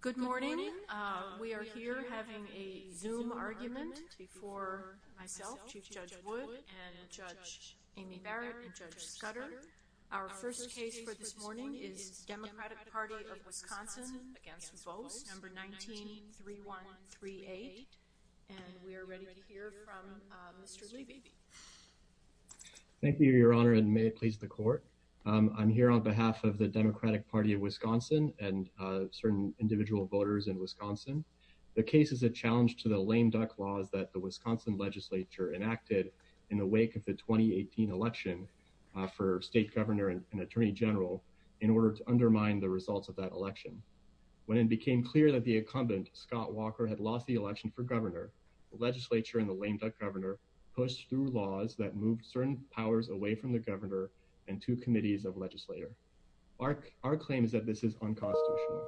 Good morning. We are here having a zoom argument before myself, Chief Judge Wood and Judge Amy Barrett and Judge Scudder. Our first case for this morning is Democratic Party of Wisconsin against Vos, number 19-3138. And we are ready to hear from Mr. Levy. Thank you, Your Honor, and may it please the court. I'm here on behalf of the Democratic Party of Wisconsin and certain individual voters in Wisconsin. The case is a challenge to the lame duck laws that the Wisconsin legislature enacted in the wake of the 2018 election for state governor and attorney general in order to undermine the results of that election. When it became clear that the incumbent, Scott Walker, had lost the election for governor, the legislature and the lame duck governor pushed through laws that moved certain powers away from the governor and two committees of legislator. Our claim is that this is unconstitutional.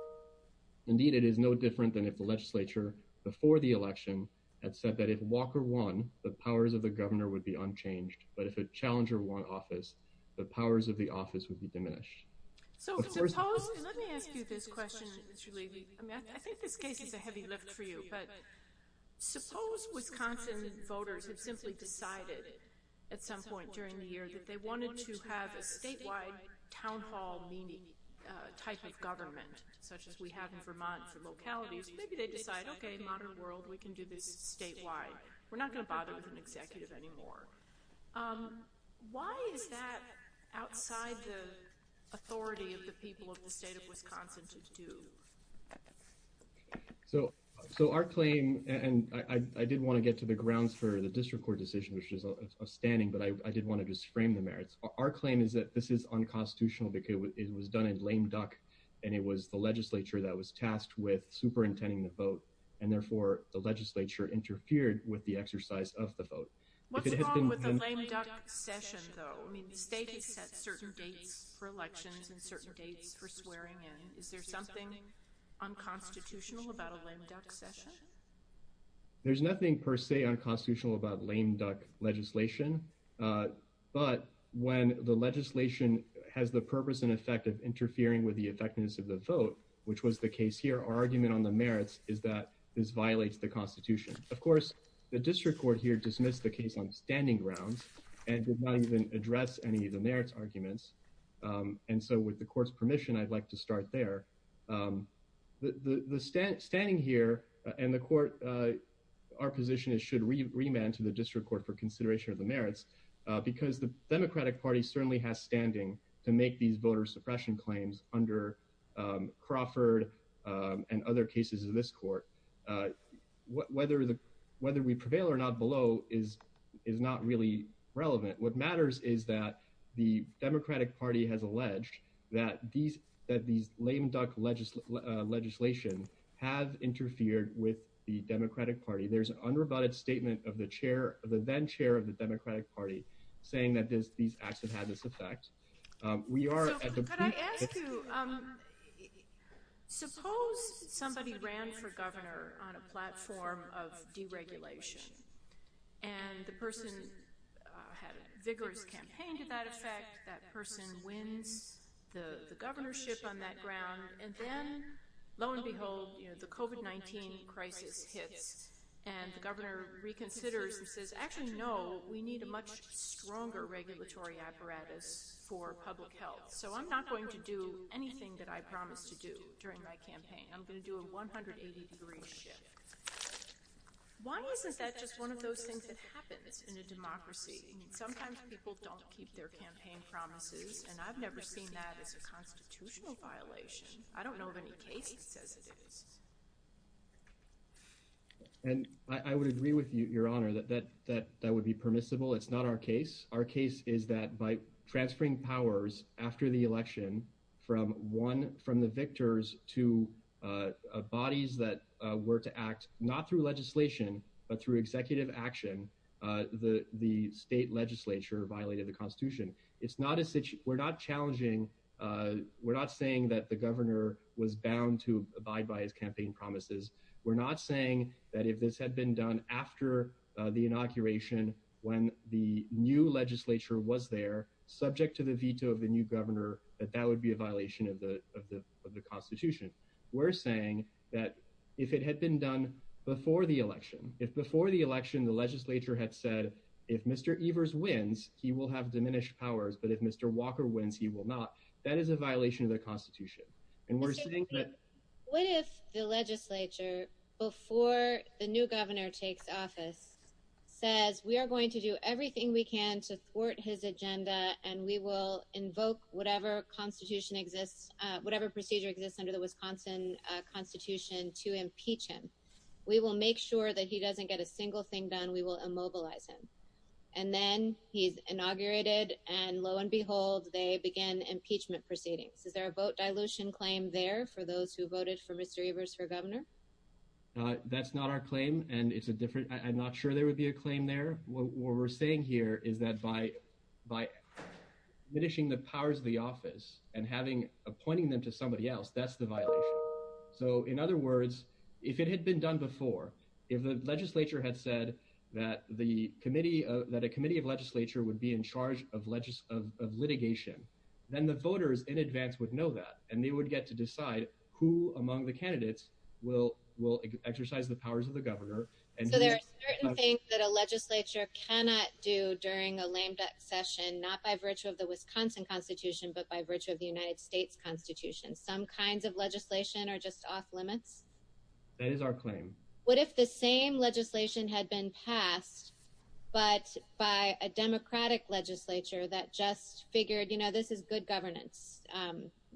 Indeed, it is no different than if the legislature before the election had said that if Walker won, the powers of the governor would be unchanged. But if a challenger won office, the powers of the office would be diminished. Let me ask you this question, Mr. Levy. I think this case is a heavy lift for you. But suppose Wisconsin voters have simply decided at some point during the year that they wanted to have a statewide town hall type of government, such as we have in Vermont for localities. Maybe they decide, okay, modern world, we can do this statewide. We're not going to bother with an executive anymore. Why is that outside the authority of the people of the state of Wisconsin to do? So, so our claim, and I did want to get to the grounds for the district court decision, which is outstanding, but I did want to just frame the merits. Our claim is that this is unconstitutional because it was done in lame duck, and it was the legislature that was tasked with superintending the vote. And therefore, the legislature interfered with the exercise of the vote. What's wrong with the lame duck session, though? I mean, the state has set certain dates for elections and certain dates for swearing in. Is there something unconstitutional about a lame duck session? There's nothing per se unconstitutional about lame duck legislation. But when the legislation has the purpose and effect of interfering with the effectiveness of the vote, which was the case here, our argument on the merits is that this violates the Constitution. Of course, the district court here dismissed the case on standing grounds and did not even address any of the merits arguments. And so with the court's permission, I'd like to start there. The standing here and the court, our position is should remand to the district court for consideration of the merits, because the Democratic Party certainly has standing to make these voter suppression claims under Crawford and other cases of this court. Whether we prevail or not below is not really relevant. What matters is that the Democratic Party has alleged that these lame duck legislation have interfered with the Democratic Party. There's an unrebutted statement of the chair of the then chair of the Democratic Party saying that these acts have had this effect. Could I ask you, suppose somebody ran for governor on a platform of deregulation and the person had a vigorous campaign to that effect. That person wins the governorship on that ground. And then lo and behold, the COVID-19 crisis hits and the governor reconsiders and says, actually, no, we need a much stronger regulatory apparatus for public health. So I'm not going to do anything that I promised to do during my campaign. I'm going to do a 180 degree shift. Why isn't that just one of those things that happens in a democracy? Sometimes people don't keep their campaign promises, and I've never seen that as a constitutional violation. I don't know of any case that says it is. And I would agree with you, Your Honor, that that that that would be permissible. It's not our case. Our case is that by transferring powers after the election from one from the victors to bodies that were to act, not through legislation, but through executive action. The state legislature violated the Constitution. We're not challenging. We're not saying that the governor was bound to abide by his campaign promises. We're not saying that if this had been done after the inauguration, when the new legislature was there, subject to the veto of the new governor, that that would be a violation of the Constitution. We're saying that if it had been done before the election, if before the election, the legislature had said, if Mr. Evers wins, he will have diminished powers. But if Mr. Walker wins, he will not. That is a violation of the Constitution. What if the legislature, before the new governor takes office, says we are going to do everything we can to thwart his agenda and we will invoke whatever constitution exists, whatever procedure exists under the Wisconsin Constitution to impeach him. We will make sure that he doesn't get a single thing done. We will immobilize him. And then he's inaugurated. And lo and behold, they begin impeachment proceedings. Is there a vote dilution claim there for those who voted for Mr. Evers for governor? That's not our claim. And it's a different I'm not sure there would be a claim there. What we're saying here is that by by diminishing the powers of the office and having appointing them to somebody else, that's the violation. So in other words, if it had been done before, if the legislature had said that the committee that a committee of legislature would be in charge of litigation, then the voters in advance would know that and they would get to decide who among the candidates will will exercise the powers of the governor. And so there are certain things that a legislature cannot do during a lame duck session, not by virtue of the Wisconsin Constitution, but by virtue of the United States Constitution. Some kinds of legislation are just off limits. That is our claim. What if the same legislation had been passed, but by a Democratic legislature that just figured, you know, this is good governance.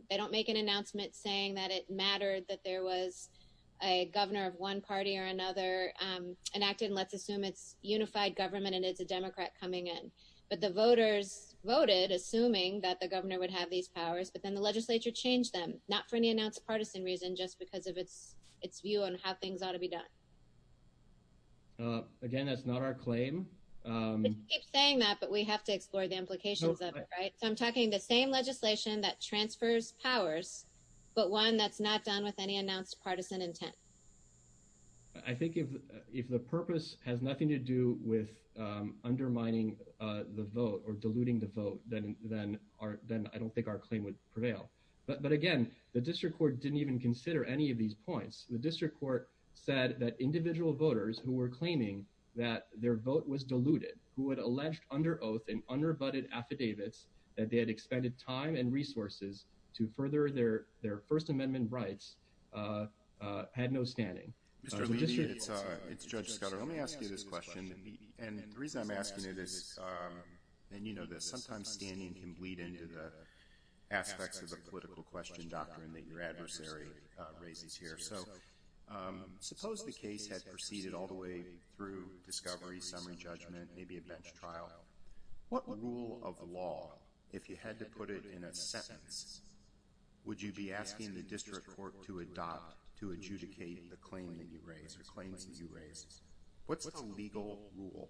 They don't make an announcement saying that it mattered that there was a governor of one party or another enacted and let's assume it's unified government and it's a Democrat coming in. But the voters voted assuming that the governor would have these powers but then the legislature change them, not for any announced partisan reason just because of its, its view on how things ought to be done. Again, that's not our claim. saying that but we have to explore the implications of it right so I'm talking the same legislation that transfers powers, but one that's not done with any announced partisan intent. I think if, if the purpose has nothing to do with undermining the vote or diluting the vote, then, then our, then I don't think our claim would prevail. But but again, the district court didn't even consider any of these points, the district court said that individual voters who were claiming that their vote was diluted, who had alleged under oath and under butted affidavits that they had expended time and resources to further their, their First Amendment rights had no standing. It's Judge Scott, let me ask you this question. And the reason I'm asking you this. And you know this sometimes standing can bleed into the aspects of the political question doctrine that your adversary raises here so suppose the case has proceeded all the way through discovery summary judgment, maybe a bench trial. What rule of law, if you had to put it in a sentence, would you be asking the district court to adopt to adjudicate the claim that you raise or claims that you raise? What's the legal rule?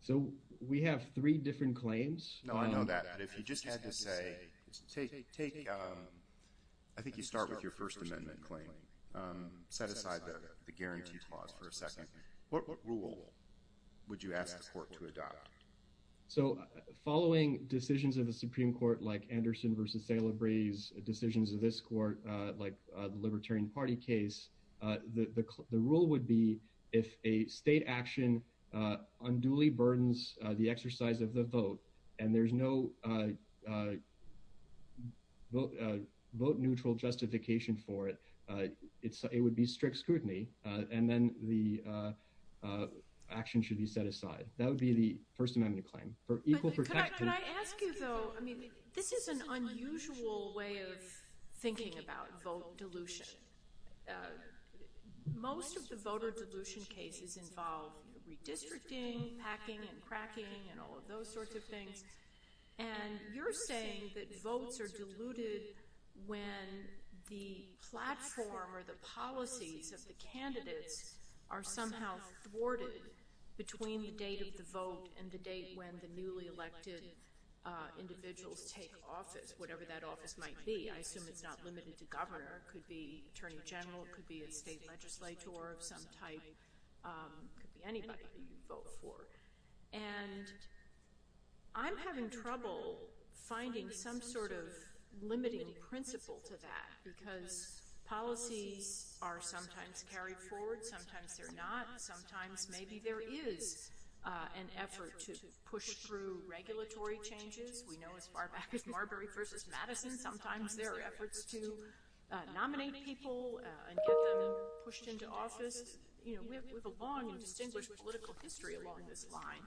So we have three different claims. No, I know that if you just had to say, take, take. I think you start with your First Amendment claim. Set aside the guarantee clause for a second. What rule would you ask the court to adopt? So, following decisions of the Supreme Court like Anderson versus sailor breeze decisions of this court, like the Libertarian Party case, the rule would be if a state action unduly burdens, the exercise of the vote, and there's no vote neutral justification for it. It would be strict scrutiny, and then the action should be set aside, that would be the First Amendment claim for equal protection. I mean, this is an unusual way of thinking about vote dilution. Most of the voter dilution cases involve redistricting, packing and cracking, and all of those sorts of things. And you're saying that votes are diluted when the platform or the policies of the candidates are somehow thwarted between the date of the vote and the date when the newly elected individuals take office, whatever that office might be. I assume it's not limited to governor, it could be attorney general, it could be a state legislator of some type, it could be anybody that you vote for. And I'm having trouble finding some sort of limiting principle to that because policies are sometimes carried forward, sometimes they're not, sometimes maybe there is an effort to push through regulatory changes. We know as far back as Marbury v. Madison, sometimes there are efforts to nominate people and get them pushed into office. You know, we have a long and distinguished political history along this line.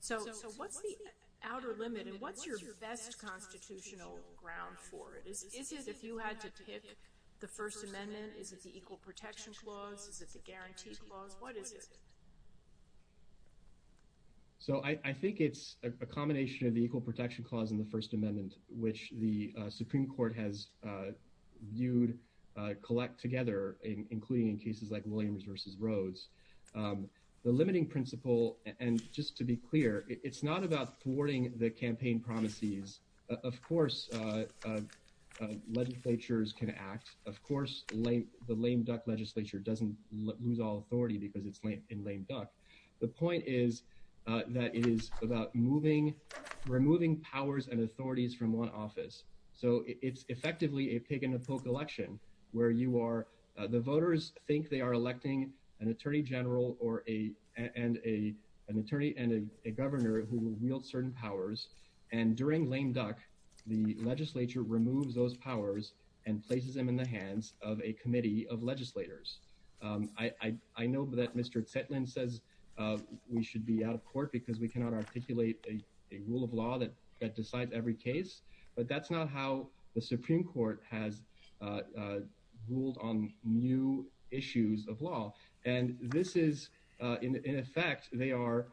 So what's the outer limit and what's your best constitutional ground for it? Is it if you had to pick the First Amendment, is it the Equal Protection Clause, is it the Guarantee Clause, what is it? So I think it's a combination of the Equal Protection Clause and the First Amendment, which the Supreme Court has viewed, collect together, including in cases like Williams v. Rhodes. The limiting principle, and just to be clear, it's not about thwarting the campaign promises. Of course, legislatures can act. Of course, the lame duck legislature doesn't lose all authority because it's in lame duck. The point is that it is about removing powers and authorities from one office. So it's effectively a pick and a poke election where you are. The voters think they are electing an attorney general or a and a an attorney and a governor who wields certain powers. And during lame duck, the legislature removes those powers and places them in the hands of a committee of legislators. I know that Mr. Zetlin says we should be out of court because we cannot articulate a rule of law that decides every case. But that's not how the Supreme Court has ruled on new issues of law. And this is in effect, they are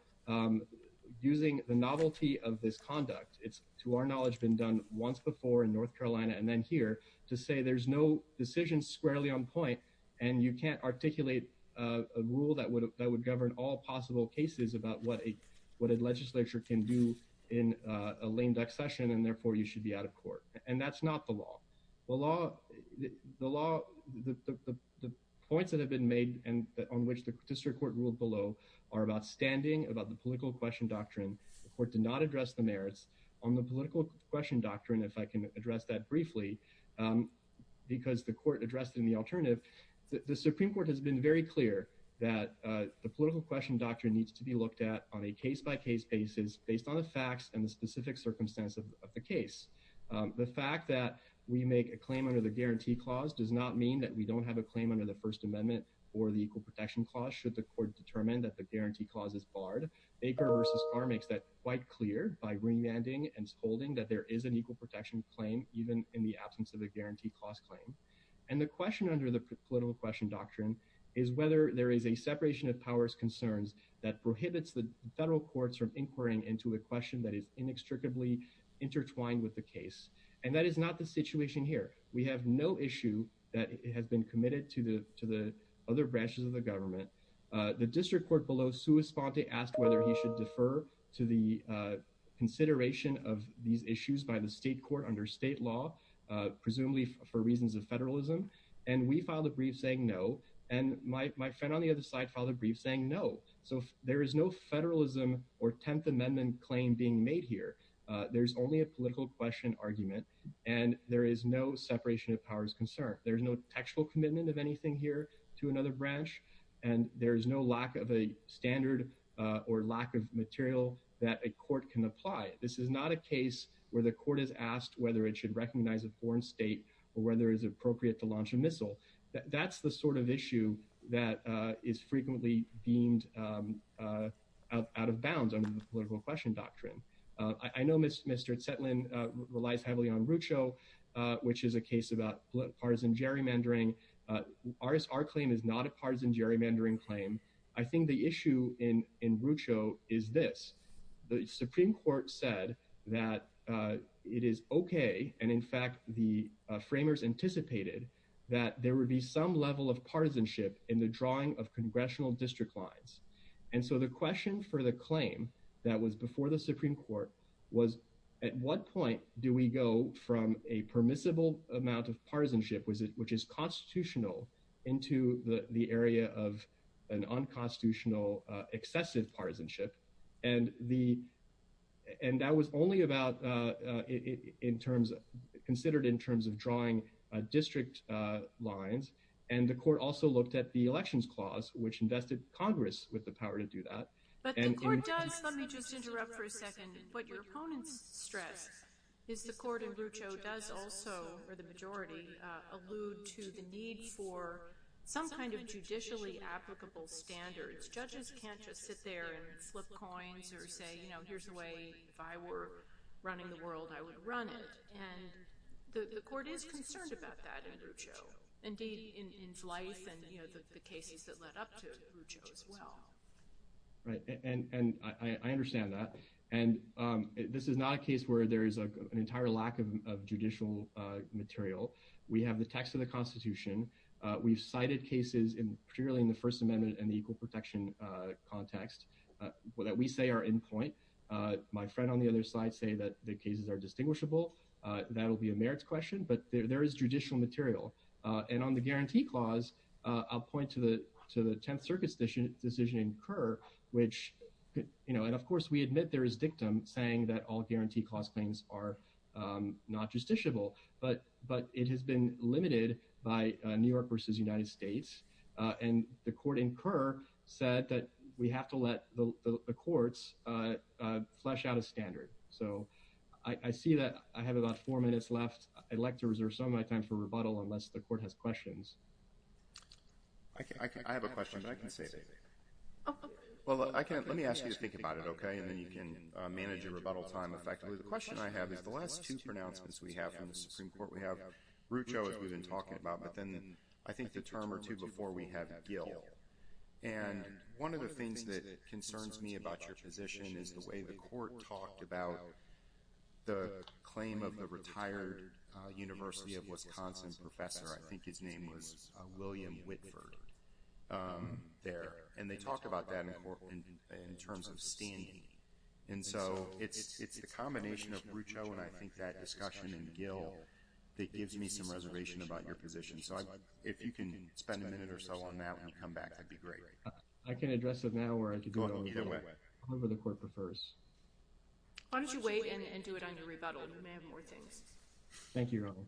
using the novelty of this conduct. It's to our knowledge, been done once before in North Carolina and then here to say there's no decision squarely on point. And you can't articulate a rule that would that would govern all possible cases about what a what a legislature can do in a lame duck session. And therefore, you should be out of court. And that's not the law. The law, the law, the points that have been made and on which the district court ruled below are about standing about the political question doctrine. The court did not address the merits on the political question doctrine, if I can address that briefly, because the court addressed in the alternative. The Supreme Court has been very clear that the political question doctrine needs to be looked at on a case by case basis based on the facts and the specific circumstance of the case. The fact that we make a claim under the guarantee clause does not mean that we don't have a claim under the First Amendment or the Equal Protection Clause. Nor should the court determine that the guarantee clause is barred. Baker v. Carr makes that quite clear by remanding and holding that there is an equal protection claim, even in the absence of a guarantee clause claim. And the question under the political question doctrine is whether there is a separation of powers concerns that prohibits the federal courts from inquiring into a question that is inextricably intertwined with the case. And that is not the situation here. We have no issue that has been committed to the to the other branches of the government. The district court below, Sue Esponte, asked whether he should defer to the consideration of these issues by the state court under state law, presumably for reasons of federalism. And we filed a brief saying no. And my friend on the other side filed a brief saying no. So there is no federalism or 10th Amendment claim being made here. There's only a political question argument. And there is no separation of powers concern. There's no textual commitment of anything here to another branch. And there is no lack of a standard or lack of material that a court can apply. This is not a case where the court is asked whether it should recognize a foreign state or whether it's appropriate to launch a missile. That's the sort of issue that is frequently deemed out of bounds under the political question doctrine. I know Mr. Zetlin relies heavily on Rucho, which is a case about partisan gerrymandering. Our claim is not a partisan gerrymandering claim. I think the issue in in Rucho is this. The Supreme Court said that it is okay. And in fact, the framers anticipated that there would be some level of partisanship in the drawing of congressional district lines. And so the question for the claim that was before the Supreme Court was, at what point do we go from a permissible amount of partisanship, which is constitutional, into the area of an unconstitutional excessive partisanship? And that was only considered in terms of drawing district lines. And the court also looked at the elections clause, which invested Congress with the power to do that. But the court does, let me just interrupt for a second, what your opponents stress is the court in Rucho does also, for the majority, allude to the need for some kind of judicially applicable standards. Judges can't just sit there and flip coins or say, you know, here's a way, if I were running the world, I would run it. And the court is concerned about that in Rucho. Indeed, in its life and the cases that led up to Rucho as well. And I understand that. And this is not a case where there is an entire lack of judicial material. We have the text of the Constitution. We've cited cases, particularly in the First Amendment and the equal protection context, that we say are in point. My friend on the other side say that the cases are distinguishable. That'll be a merits question. But there is judicial material. And on the guarantee clause, I'll point to the 10th Circuit's decision in Kerr, which, you know, and of course, we admit there is dictum saying that all guarantee clause claims are not justiciable. But it has been limited by New York versus United States. And the court in Kerr said that we have to let the courts flesh out a standard. So I see that I have about four minutes left. I'd like to reserve some of my time for rebuttal unless the court has questions. I have a question, but I can say it. Well, let me ask you to think about it, okay? And then you can manage your rebuttal time effectively. The question I have is the last two pronouncements we have from the Supreme Court, we have Rucho, as we've been talking about, but then I think the term or two before we have Gill. And one of the things that concerns me about your position is the way the court talked about the claim of the retired University of Wisconsin professor, I think his name was William Whitford, there. And they talked about that in terms of standing. And so it's the combination of Rucho and I think that discussion in Gill that gives me some reservation about your position. So if you can spend a minute or so on that when you come back, that'd be great. I can address it now or I could do it later. Either way. However the court prefers. Why don't you wait and do it on your rebuttal? You may have more things. Thank you, Ronald.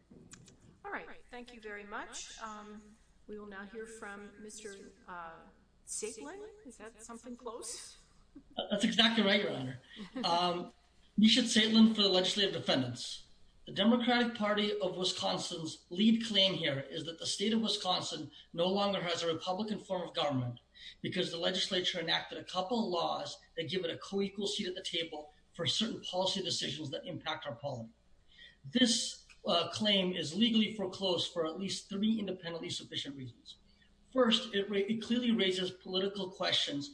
All right. Thank you very much. We will now hear from Mr. Siglin. Is that something close? That's exactly right, Your Honor. Misha Siglin for the legislative defendants. The Democratic Party of Wisconsin's lead claim here is that the state of Wisconsin no longer has a Republican form of government, because the legislature enacted a couple of laws that give it a co-equal seat at the table for certain policy decisions that impact our polity. This claim is legally foreclosed for at least three independently sufficient reasons. First, it clearly raises political questions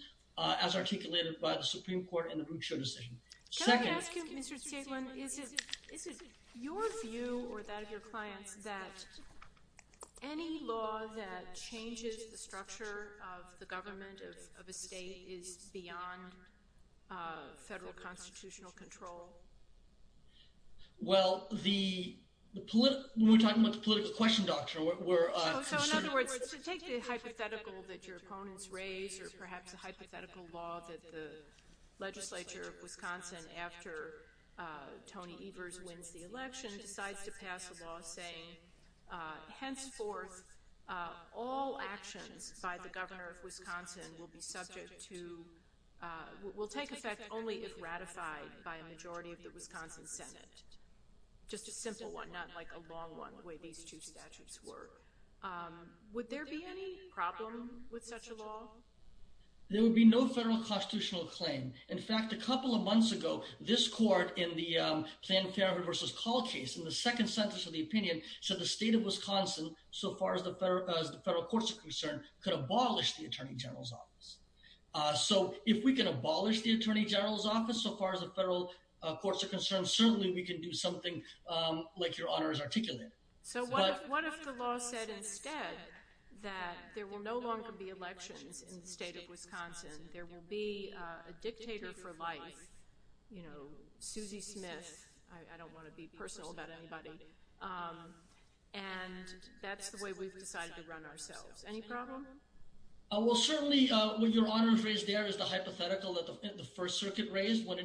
as articulated by the Supreme Court in the Rucho decision. Can I ask you, Mr. Siglin, is it your view or that of your clients that any law that changes the structure of the government of a state is beyond federal constitutional control? Well, when we're talking about the political question, Dr., we're... So, in other words, take the hypothetical that your opponents raise or perhaps the hypothetical law that the legislature of Wisconsin, after Tony Evers wins the election, decides to pass a law saying, henceforth, all actions by the governor of Wisconsin will be subject to, will take effect only if ratified by a majority of the Wisconsin Senate. Just a simple one, not like a long one, the way these two statutes work. Would there be any problem with such a law? There would be no federal constitutional claim. In fact, a couple of months ago, this court in the Planned Farenthood v. Call case, in the second sentence of the opinion, said the state of Wisconsin, so far as the federal courts are concerned, could abolish the Attorney General's office. So, if we can abolish the Attorney General's office, so far as the federal courts are concerned, certainly we can do something like Your Honor has articulated. So, what if the law said instead that there will no longer be elections in the state of Wisconsin, there will be a dictator for life, you know, Susie Smith, I don't want to be personal about anybody, and that's the way we've decided to run ourselves. Any problem? Well, certainly, what Your Honor has raised there is the hypothetical that the First Circuit raised, what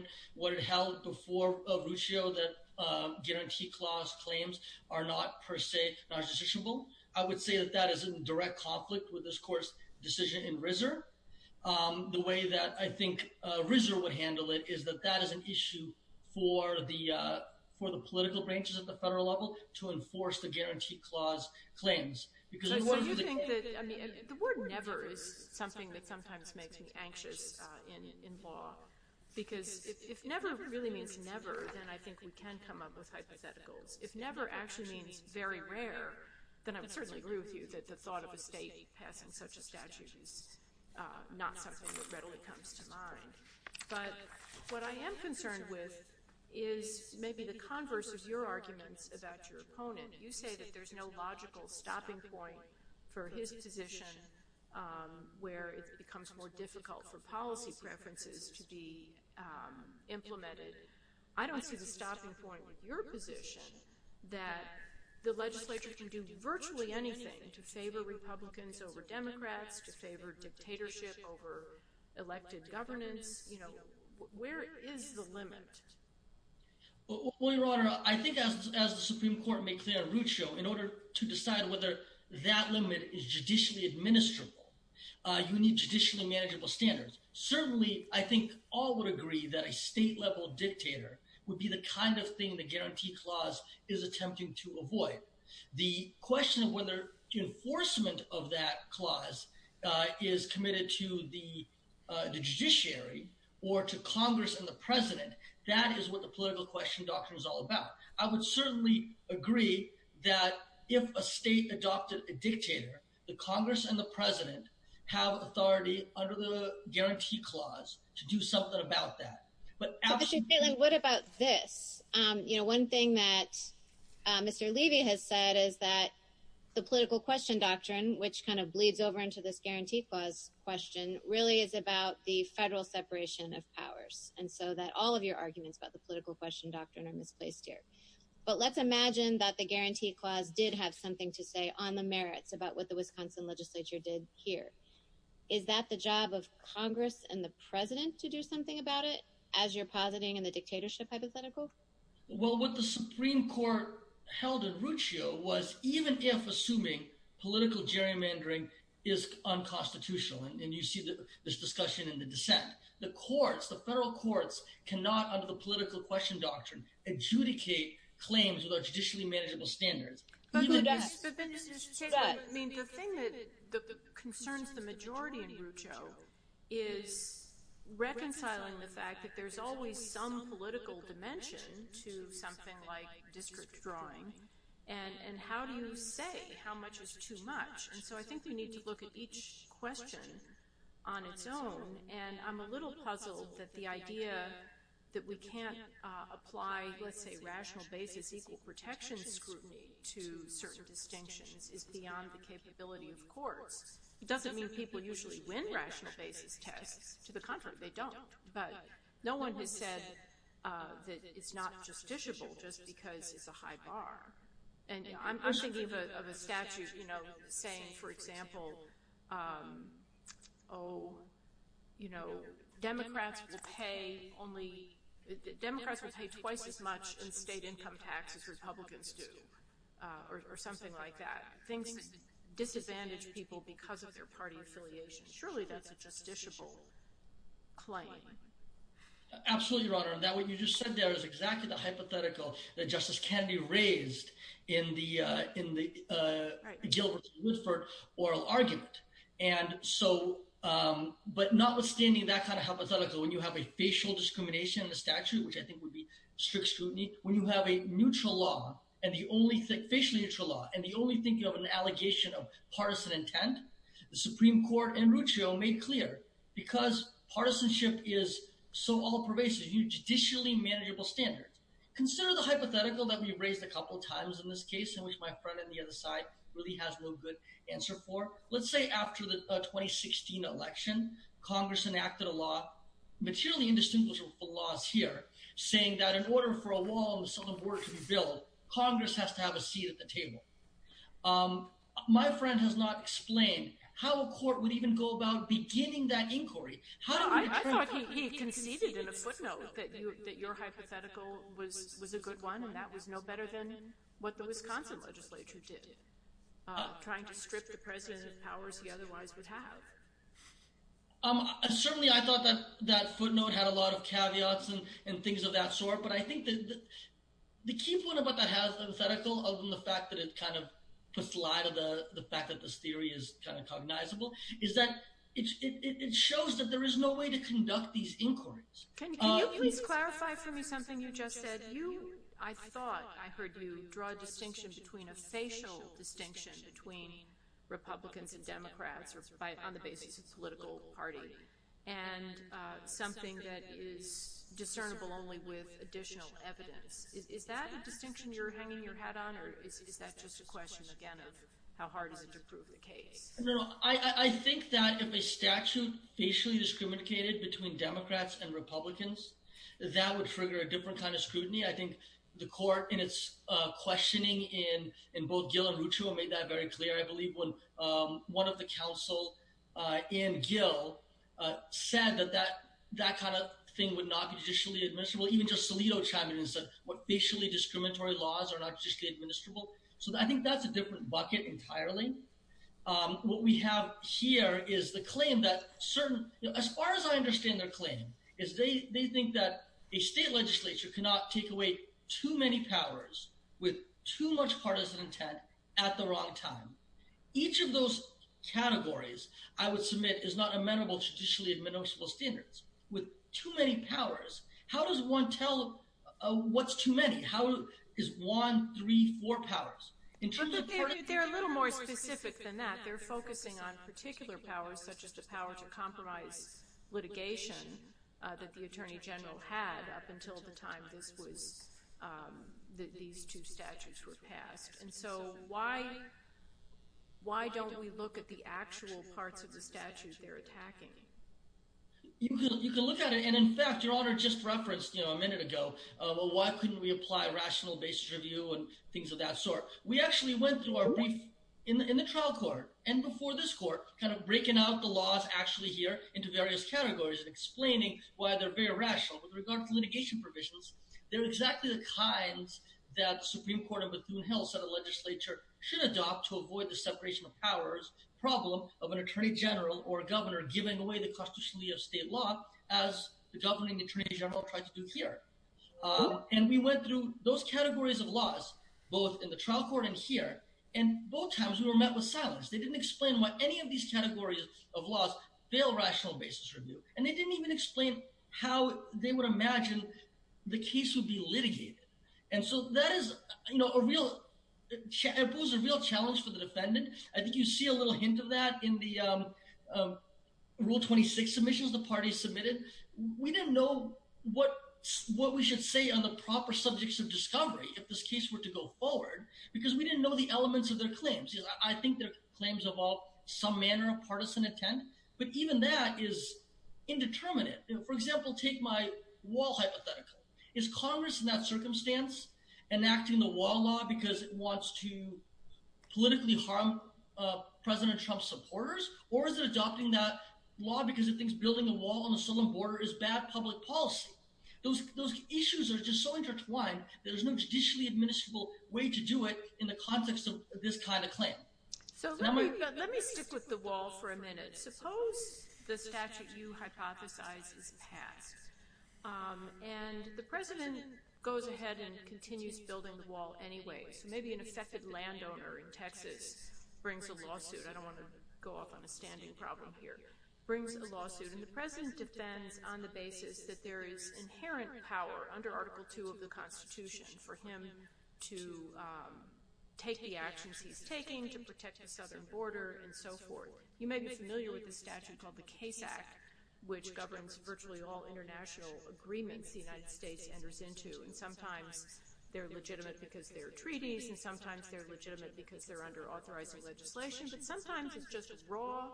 it held before Ruccio, that guarantee clause claims are not per se non-justiciable. I would say that that is in direct conflict with this court's decision in Risser. The way that I think Risser would handle it is that that is an issue for the political branches at the federal level to enforce the guarantee clause claims. The word never is something that sometimes makes me anxious in law, because if never really means never, then I think we can come up with hypotheticals. If never actually means very rare, then I would certainly agree with you that the thought of a state passing such a statute is not something that readily comes to mind. But what I am concerned with is maybe the converse of your arguments about your opponent. You say that there's no logical stopping point for his position where it becomes more difficult for policy preferences to be implemented. I don't see the stopping point with your position that the legislature can do virtually anything to favor Republicans over Democrats, to favor dictatorship over elected governance. Where is the limit? Your Honor, I think as the Supreme Court made clear on Ruccio, in order to decide whether that limit is judicially administrable, you need judicially manageable standards. Certainly, I think all would agree that a state-level dictator would be the kind of thing the guarantee clause is attempting to avoid. The question of whether enforcement of that clause is committed to the judiciary or to Congress and the President, that is what the political question doctrine is all about. I would certainly agree that if a state adopted a dictator, the Congress and the President have authority under the guarantee clause to do something about that. What about this? One thing that Mr. Levy has said is that the political question doctrine, which kind of bleeds over into this guarantee clause question, really is about the federal separation of powers. And so that all of your arguments about the political question doctrine are misplaced here. But let's imagine that the guarantee clause did have something to say on the merits about what the Wisconsin legislature did here. Is that the job of Congress and the President to do something about it, as you're positing in the dictatorship hypothetical? Well, what the Supreme Court held in Ruccio was even if assuming political gerrymandering is unconstitutional, and you see this discussion in the dissent, the courts, the federal courts, cannot, under the political question doctrine, adjudicate claims without judicially manageable standards. But Mr. Chase, the thing that concerns the majority in Ruccio is reconciling the fact that there's always some political dimension to something like district drawing. And how do you say how much is too much? And so I think we need to look at each question on its own. And I'm a little puzzled that the idea that we can't apply, let's say, rational basis equal protection scrutiny to certain distinctions is beyond the capability of courts. It doesn't mean people usually win rational basis tests. To the contrary, they don't. But no one has said that it's not justiciable just because it's a high bar. And I'm thinking of a statute saying, for example, Democrats will pay twice as much in state income tax as Republicans do, or something like that. Things disadvantage people because of their party affiliation. Surely that's a justiciable claim. Absolutely, Your Honor. And that what you just said there is exactly the hypothetical that Justice Kennedy raised in the Gil Woodford oral argument. And so, but notwithstanding that kind of hypothetical, when you have a facial discrimination in the statute, which I think would be strict scrutiny, when you have a neutral law and the only thing, facial neutral law, and the only thing you have an allegation of partisan intent, the Supreme Court and Ruccio made clear because partisanship is so all pervasive, you need judicially manageable standards. Consider the hypothetical that we raised a couple of times in this case, in which my friend on the other side really has no good answer for. Let's say after the 2016 election, Congress enacted a law, materially indistinguishable from the laws here, saying that in order for a wall on the southern border to be built, Congress has to have a seat at the table. My friend has not explained how a court would even go about beginning that inquiry. I thought he conceded in a footnote that your hypothetical was a good one. That was no better than what the Wisconsin legislature did, trying to strip the president of powers he otherwise would have. Certainly, I thought that that footnote had a lot of caveats and things of that sort. But I think that the key point about that hypothetical, other than the fact that it kind of puts light of the fact that this theory is kind of cognizable, is that it shows that there is no way to conduct these inquiries. Can you please clarify for me something you just said? I thought I heard you draw a distinction between a facial distinction between Republicans and Democrats on the basis of political party and something that is discernible only with additional evidence. Is that a distinction you're hanging your hat on, or is that just a question, again, of how hard is it to prove the case? I think that if a statute facially discriminated between Democrats and Republicans, that would trigger a different kind of scrutiny. I think the court, in its questioning in both Gill and Ruccio, made that very clear, I believe, when one of the counsel in Gill said that that kind of thing would not be judicially administrable. Even just Solito chimed in and said, what, facially discriminatory laws are not judicially administrable? So I think that's a different bucket entirely. What we have here is the claim that certain—as far as I understand their claim, is they think that a state legislature cannot take away too many powers with too much partisan intent at the wrong time. Each of those categories, I would submit, is not amenable to judicially administrable standards. With too many powers, how does one tell what's too many? How is one, three, four powers? They're a little more specific than that. They're focusing on particular powers, such as the power to compromise litigation that the attorney general had up until the time that these two statutes were passed. And so why don't we look at the actual parts of the statute they're attacking? You can look at it. And in fact, Your Honor just referenced a minute ago, well, why couldn't we apply rational basis review and things of that sort? We actually went through our brief in the trial court and before this court kind of breaking out the laws actually here into various categories and explaining why they're very rational. With regard to litigation provisions, they're exactly the kinds that Supreme Court of Bethune-Hill said a legislature should adopt to avoid the separation of powers problem of an attorney general or a governor giving away the constitutionality of state law as the governing attorney general tried to do here. And we went through those categories of laws, both in the trial court and here, and both times we were met with silence. They didn't explain why any of these categories of laws fail rational basis review. And they didn't even explain how they would imagine the case would be litigated. And so that is a real challenge for the defendant. I think you see a little hint of that in the Rule 26 submissions the party submitted. We didn't know what we should say on the proper subjects of discovery if this case were to go forward because we didn't know the elements of their claims. I think their claims involve some manner of partisan intent, but even that is indeterminate. For example, take my wall hypothetical. Is Congress in that circumstance enacting the wall law because it wants to politically harm President Trump's supporters? Or is it adopting that law because it thinks building a wall on the southern border is bad public policy? Those issues are just so intertwined, there's no judicially admissible way to do it in the context of this kind of claim. So let me stick with the wall for a minute. Suppose the statute you hypothesize is passed, and the President goes ahead and continues building the wall anyway. So maybe an affected landowner in Texas brings a lawsuit. I don't want to go off on a standing problem here. And the President defends on the basis that there is inherent power under Article II of the Constitution for him to take the actions he's taking to protect the southern border and so forth. You may be familiar with the statute called the Case Act, which governs virtually all international agreements the United States enters into. And sometimes they're legitimate because they're treaties, and sometimes they're legitimate because they're under authorizing legislation. But sometimes it's just raw,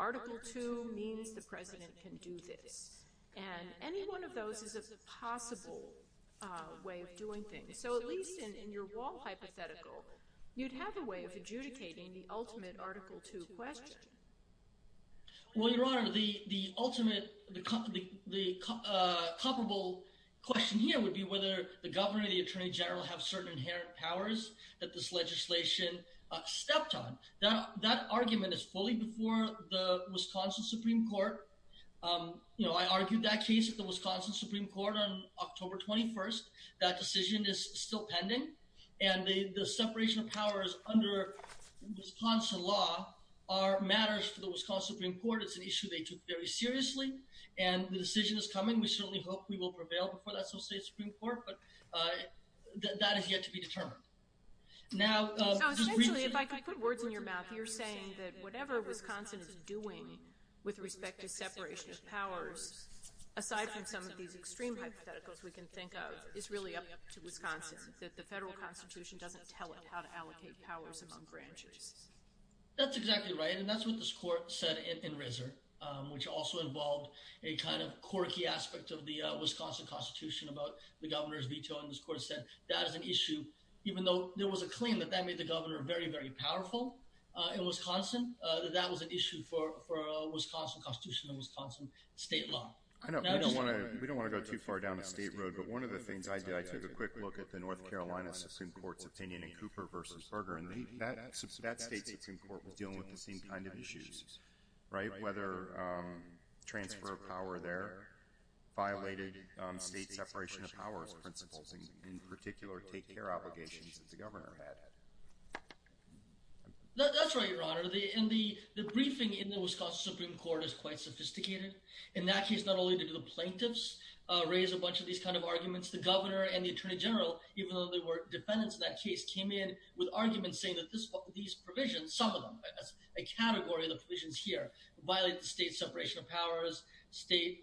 Article II means the President can do this. And any one of those is a possible way of doing things. So at least in your wall hypothetical, you'd have a way of adjudicating the ultimate Article II question. Well, Your Honor, the ultimate – the comparable question here would be whether the governor or the attorney general have certain inherent powers that this legislation stepped on. That argument is fully before the Wisconsin Supreme Court. I argued that case at the Wisconsin Supreme Court on October 21st. That decision is still pending. And the separation of powers under Wisconsin law are matters for the Wisconsin Supreme Court. It's an issue they took very seriously. And the decision is coming. We certainly hope we will prevail before the Associated Supreme Court. But that is yet to be determined. So essentially, if I could put words in your mouth, you're saying that whatever Wisconsin is doing with respect to separation of powers, aside from some of these extreme hypotheticals we can think of, is really up to Wisconsin, that the federal constitution doesn't tell it how to allocate powers among branches. That's exactly right, and that's what this court said in Risser, which also involved a kind of quirky aspect of the Wisconsin constitution about the governor's veto. This court said that is an issue, even though there was a claim that that made the governor very, very powerful in Wisconsin, that that was an issue for a Wisconsin constitution and Wisconsin state law. We don't want to go too far down the state road, but one of the things I did, I took a quick look at the North Carolina Supreme Court's opinion in Cooper v. Bergeron. That state Supreme Court was dealing with the same kind of issues, right? Whether transfer of power there violated state separation of powers principles, in particular, take care obligations that the governor had. That's right, Your Honor. The briefing in the Wisconsin Supreme Court is quite sophisticated. In that case, not only did the plaintiffs raise a bunch of these kind of arguments, the governor and the attorney general, even though they were defendants in that case, came in with arguments saying that these provisions, some of them, that's a category of the provisions here, violate the state separation of powers, state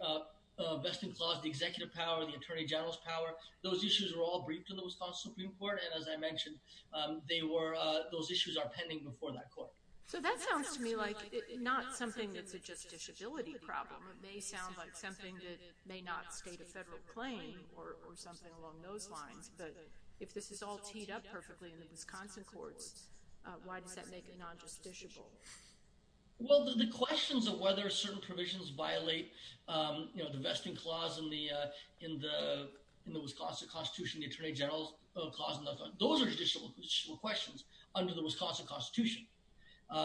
vesting clause, the executive power, the attorney general's power. Those issues were all briefed in the Wisconsin Supreme Court, and as I mentioned, those issues are pending before that court. That sounds to me like not something that's a justiciability problem. It may sound like something that may not state a federal claim or something along those lines, but if this is all teed up perfectly in the Wisconsin courts, why does that make it non-justiciable? Well, the questions of whether certain provisions violate the vesting clause in the Wisconsin Constitution, the attorney general's clause, those are judicial questions under the Wisconsin Constitution.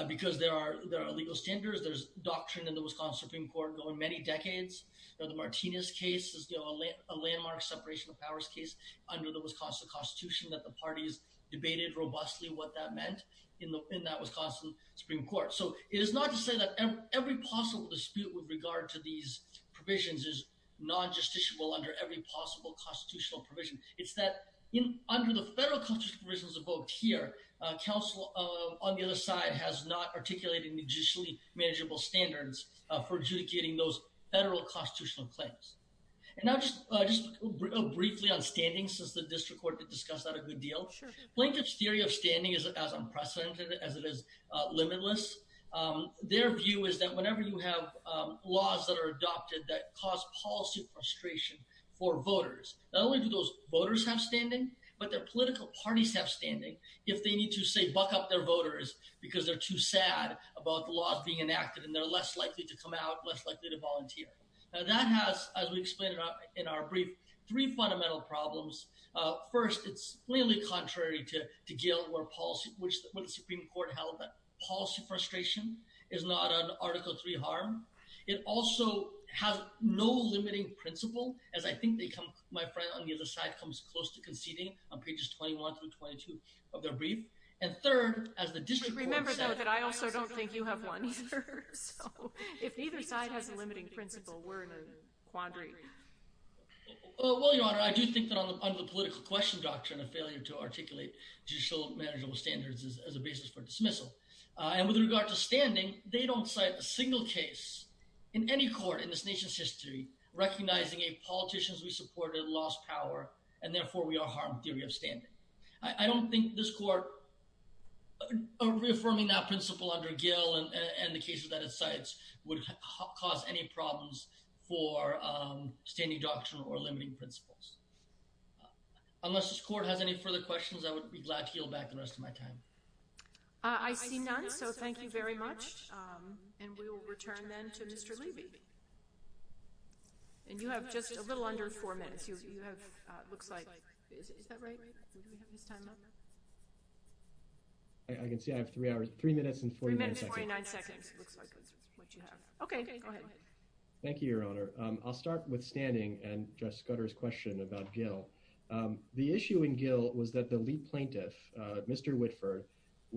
Because there are legal standards, there's doctrine in the Wisconsin Supreme Court going many decades. The Martinez case is a landmark separation of powers case under the Wisconsin Constitution that the parties debated robustly what that meant in that Wisconsin Supreme Court. So it is not to say that every possible dispute with regard to these provisions is non-justiciable under every possible constitutional provision. It's that under the federal constitutional provisions of both here, counsel on the other side has not articulated judicially manageable standards for adjudicating those federal constitutional claims. And now just briefly on standing, since the district court did discuss that a good deal. Plinkett's theory of standing is as unprecedented as it is limitless. Their view is that whenever you have laws that are adopted that cause policy frustration for voters, not only do those voters have standing, but their political parties have standing. If they need to say, buck up their voters because they're too sad about the laws being enacted and they're less likely to come out, less likely to volunteer. Now that has, as we explained in our brief, three fundamental problems. First, it's plainly contrary to Gale where policy, which the Supreme Court held that policy frustration is not an Article III harm. It also has no limiting principle, as I think they come, my friend on the other side comes close to conceding on pages 21 through 22 of their brief. And third, as the district court said. Remember though that I also don't think you have one either. So if neither side has a limiting principle, we're in a quandary. Well, Your Honor, I do think that under the political question doctrine, a failure to articulate judicial manageable standards is as a basis for dismissal. And with regard to standing, they don't cite a single case in any court in this nation's history, recognizing a politicians we supported lost power, and therefore we are harmed theory of standing. I don't think this court reaffirming that principle under Gale and the cases that it cites would cause any problems for standing doctrine or limiting principles. Unless this court has any further questions, I would be glad to yield back the rest of my time. I see none, so thank you very much. And we will return then to Mr. Levy. And you have just a little under four minutes. You have, looks like, is that right? Do we have his time up? I can see I have three hours, three minutes and 49 seconds. Three minutes and 49 seconds. Looks like that's what you have. Okay, go ahead. Thank you, Your Honor. I'll start with standing and Judge Scudder's question about Gale. The issue in Gale was that the lead plaintiff, Mr. Whitford,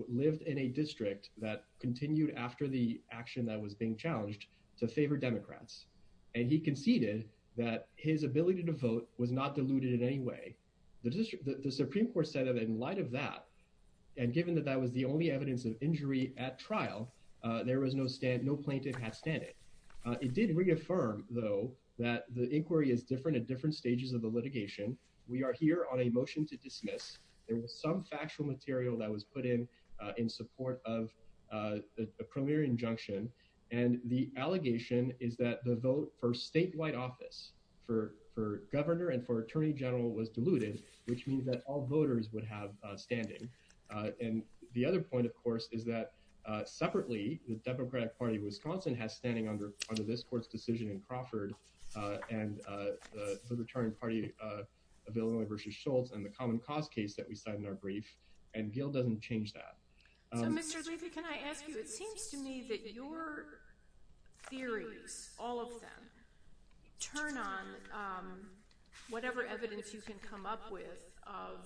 lived in a district that continued after the action that was being challenged to favor Democrats. And he conceded that his ability to vote was not diluted in any way. The Supreme Court said that in light of that, and given that that was the only evidence of injury at trial, there was no plaintiff had standing. It did reaffirm, though, that the inquiry is different at different stages of the litigation. We are here on a motion to dismiss. There was some factual material that was put in in support of the premier injunction. And the allegation is that the vote for statewide office for governor and for attorney general was diluted, which means that all voters would have standing. And the other point, of course, is that separately, the Democratic Party of Wisconsin has standing under this court's decision in Crawford and the returning party of Illinois v. Schultz and the common cause case that we cite in our brief. And Gale doesn't change that. So, Mr. Levy, can I ask you, it seems to me that your theories, all of them, turn on whatever evidence you can come up with of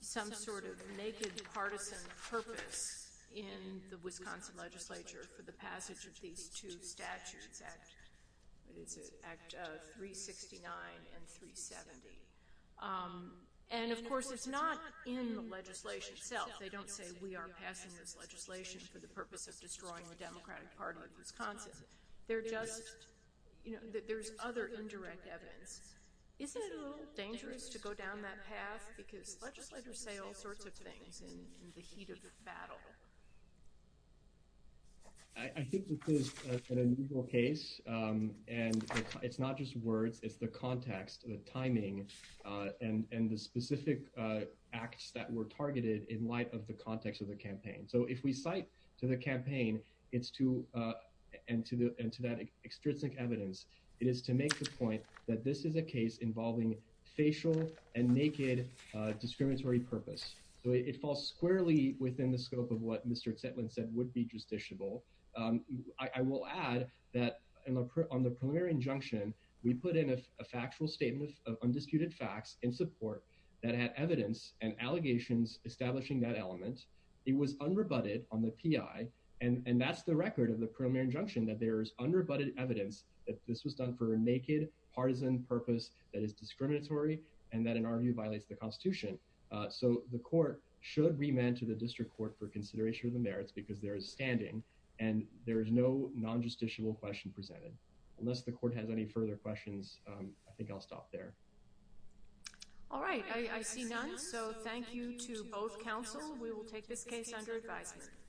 some sort of naked partisan purpose in the Wisconsin legislature for the passage of these two statutes, Act 369 and 370. And, of course, it's not in the legislation itself. They don't say we are passing this legislation for the purpose of destroying the Democratic Party of Wisconsin. They're just, you know, there's other indirect evidence. Isn't it a little dangerous to go down that path? Because legislators say all sorts of things in the heat of the battle. I think this is an unusual case. And it's not just words, it's the context, the timing, and the specific acts that were targeted in light of the context of the campaign. So if we cite to the campaign, it's to, and to that extrinsic evidence, it is to make the point that this is a case involving facial and naked discriminatory purpose. So it falls squarely within the scope of what Mr. Zetlin said would be justiciable. I will add that on the preliminary injunction, we put in a factual statement of undisputed facts in support that had evidence and allegations establishing that element. It was unrebutted on the PI. And that's the record of the preliminary injunction, that there is unrebutted evidence that this was done for a naked partisan purpose that is discriminatory and that, in our view, violates the Constitution. So the court should remand to the district court for consideration of the merits because there is standing and there is no non-justiciable question presented. Unless the court has any further questions, I think I'll stop there. All right. I see none. So thank you to both counsel. We will take this case under advisement.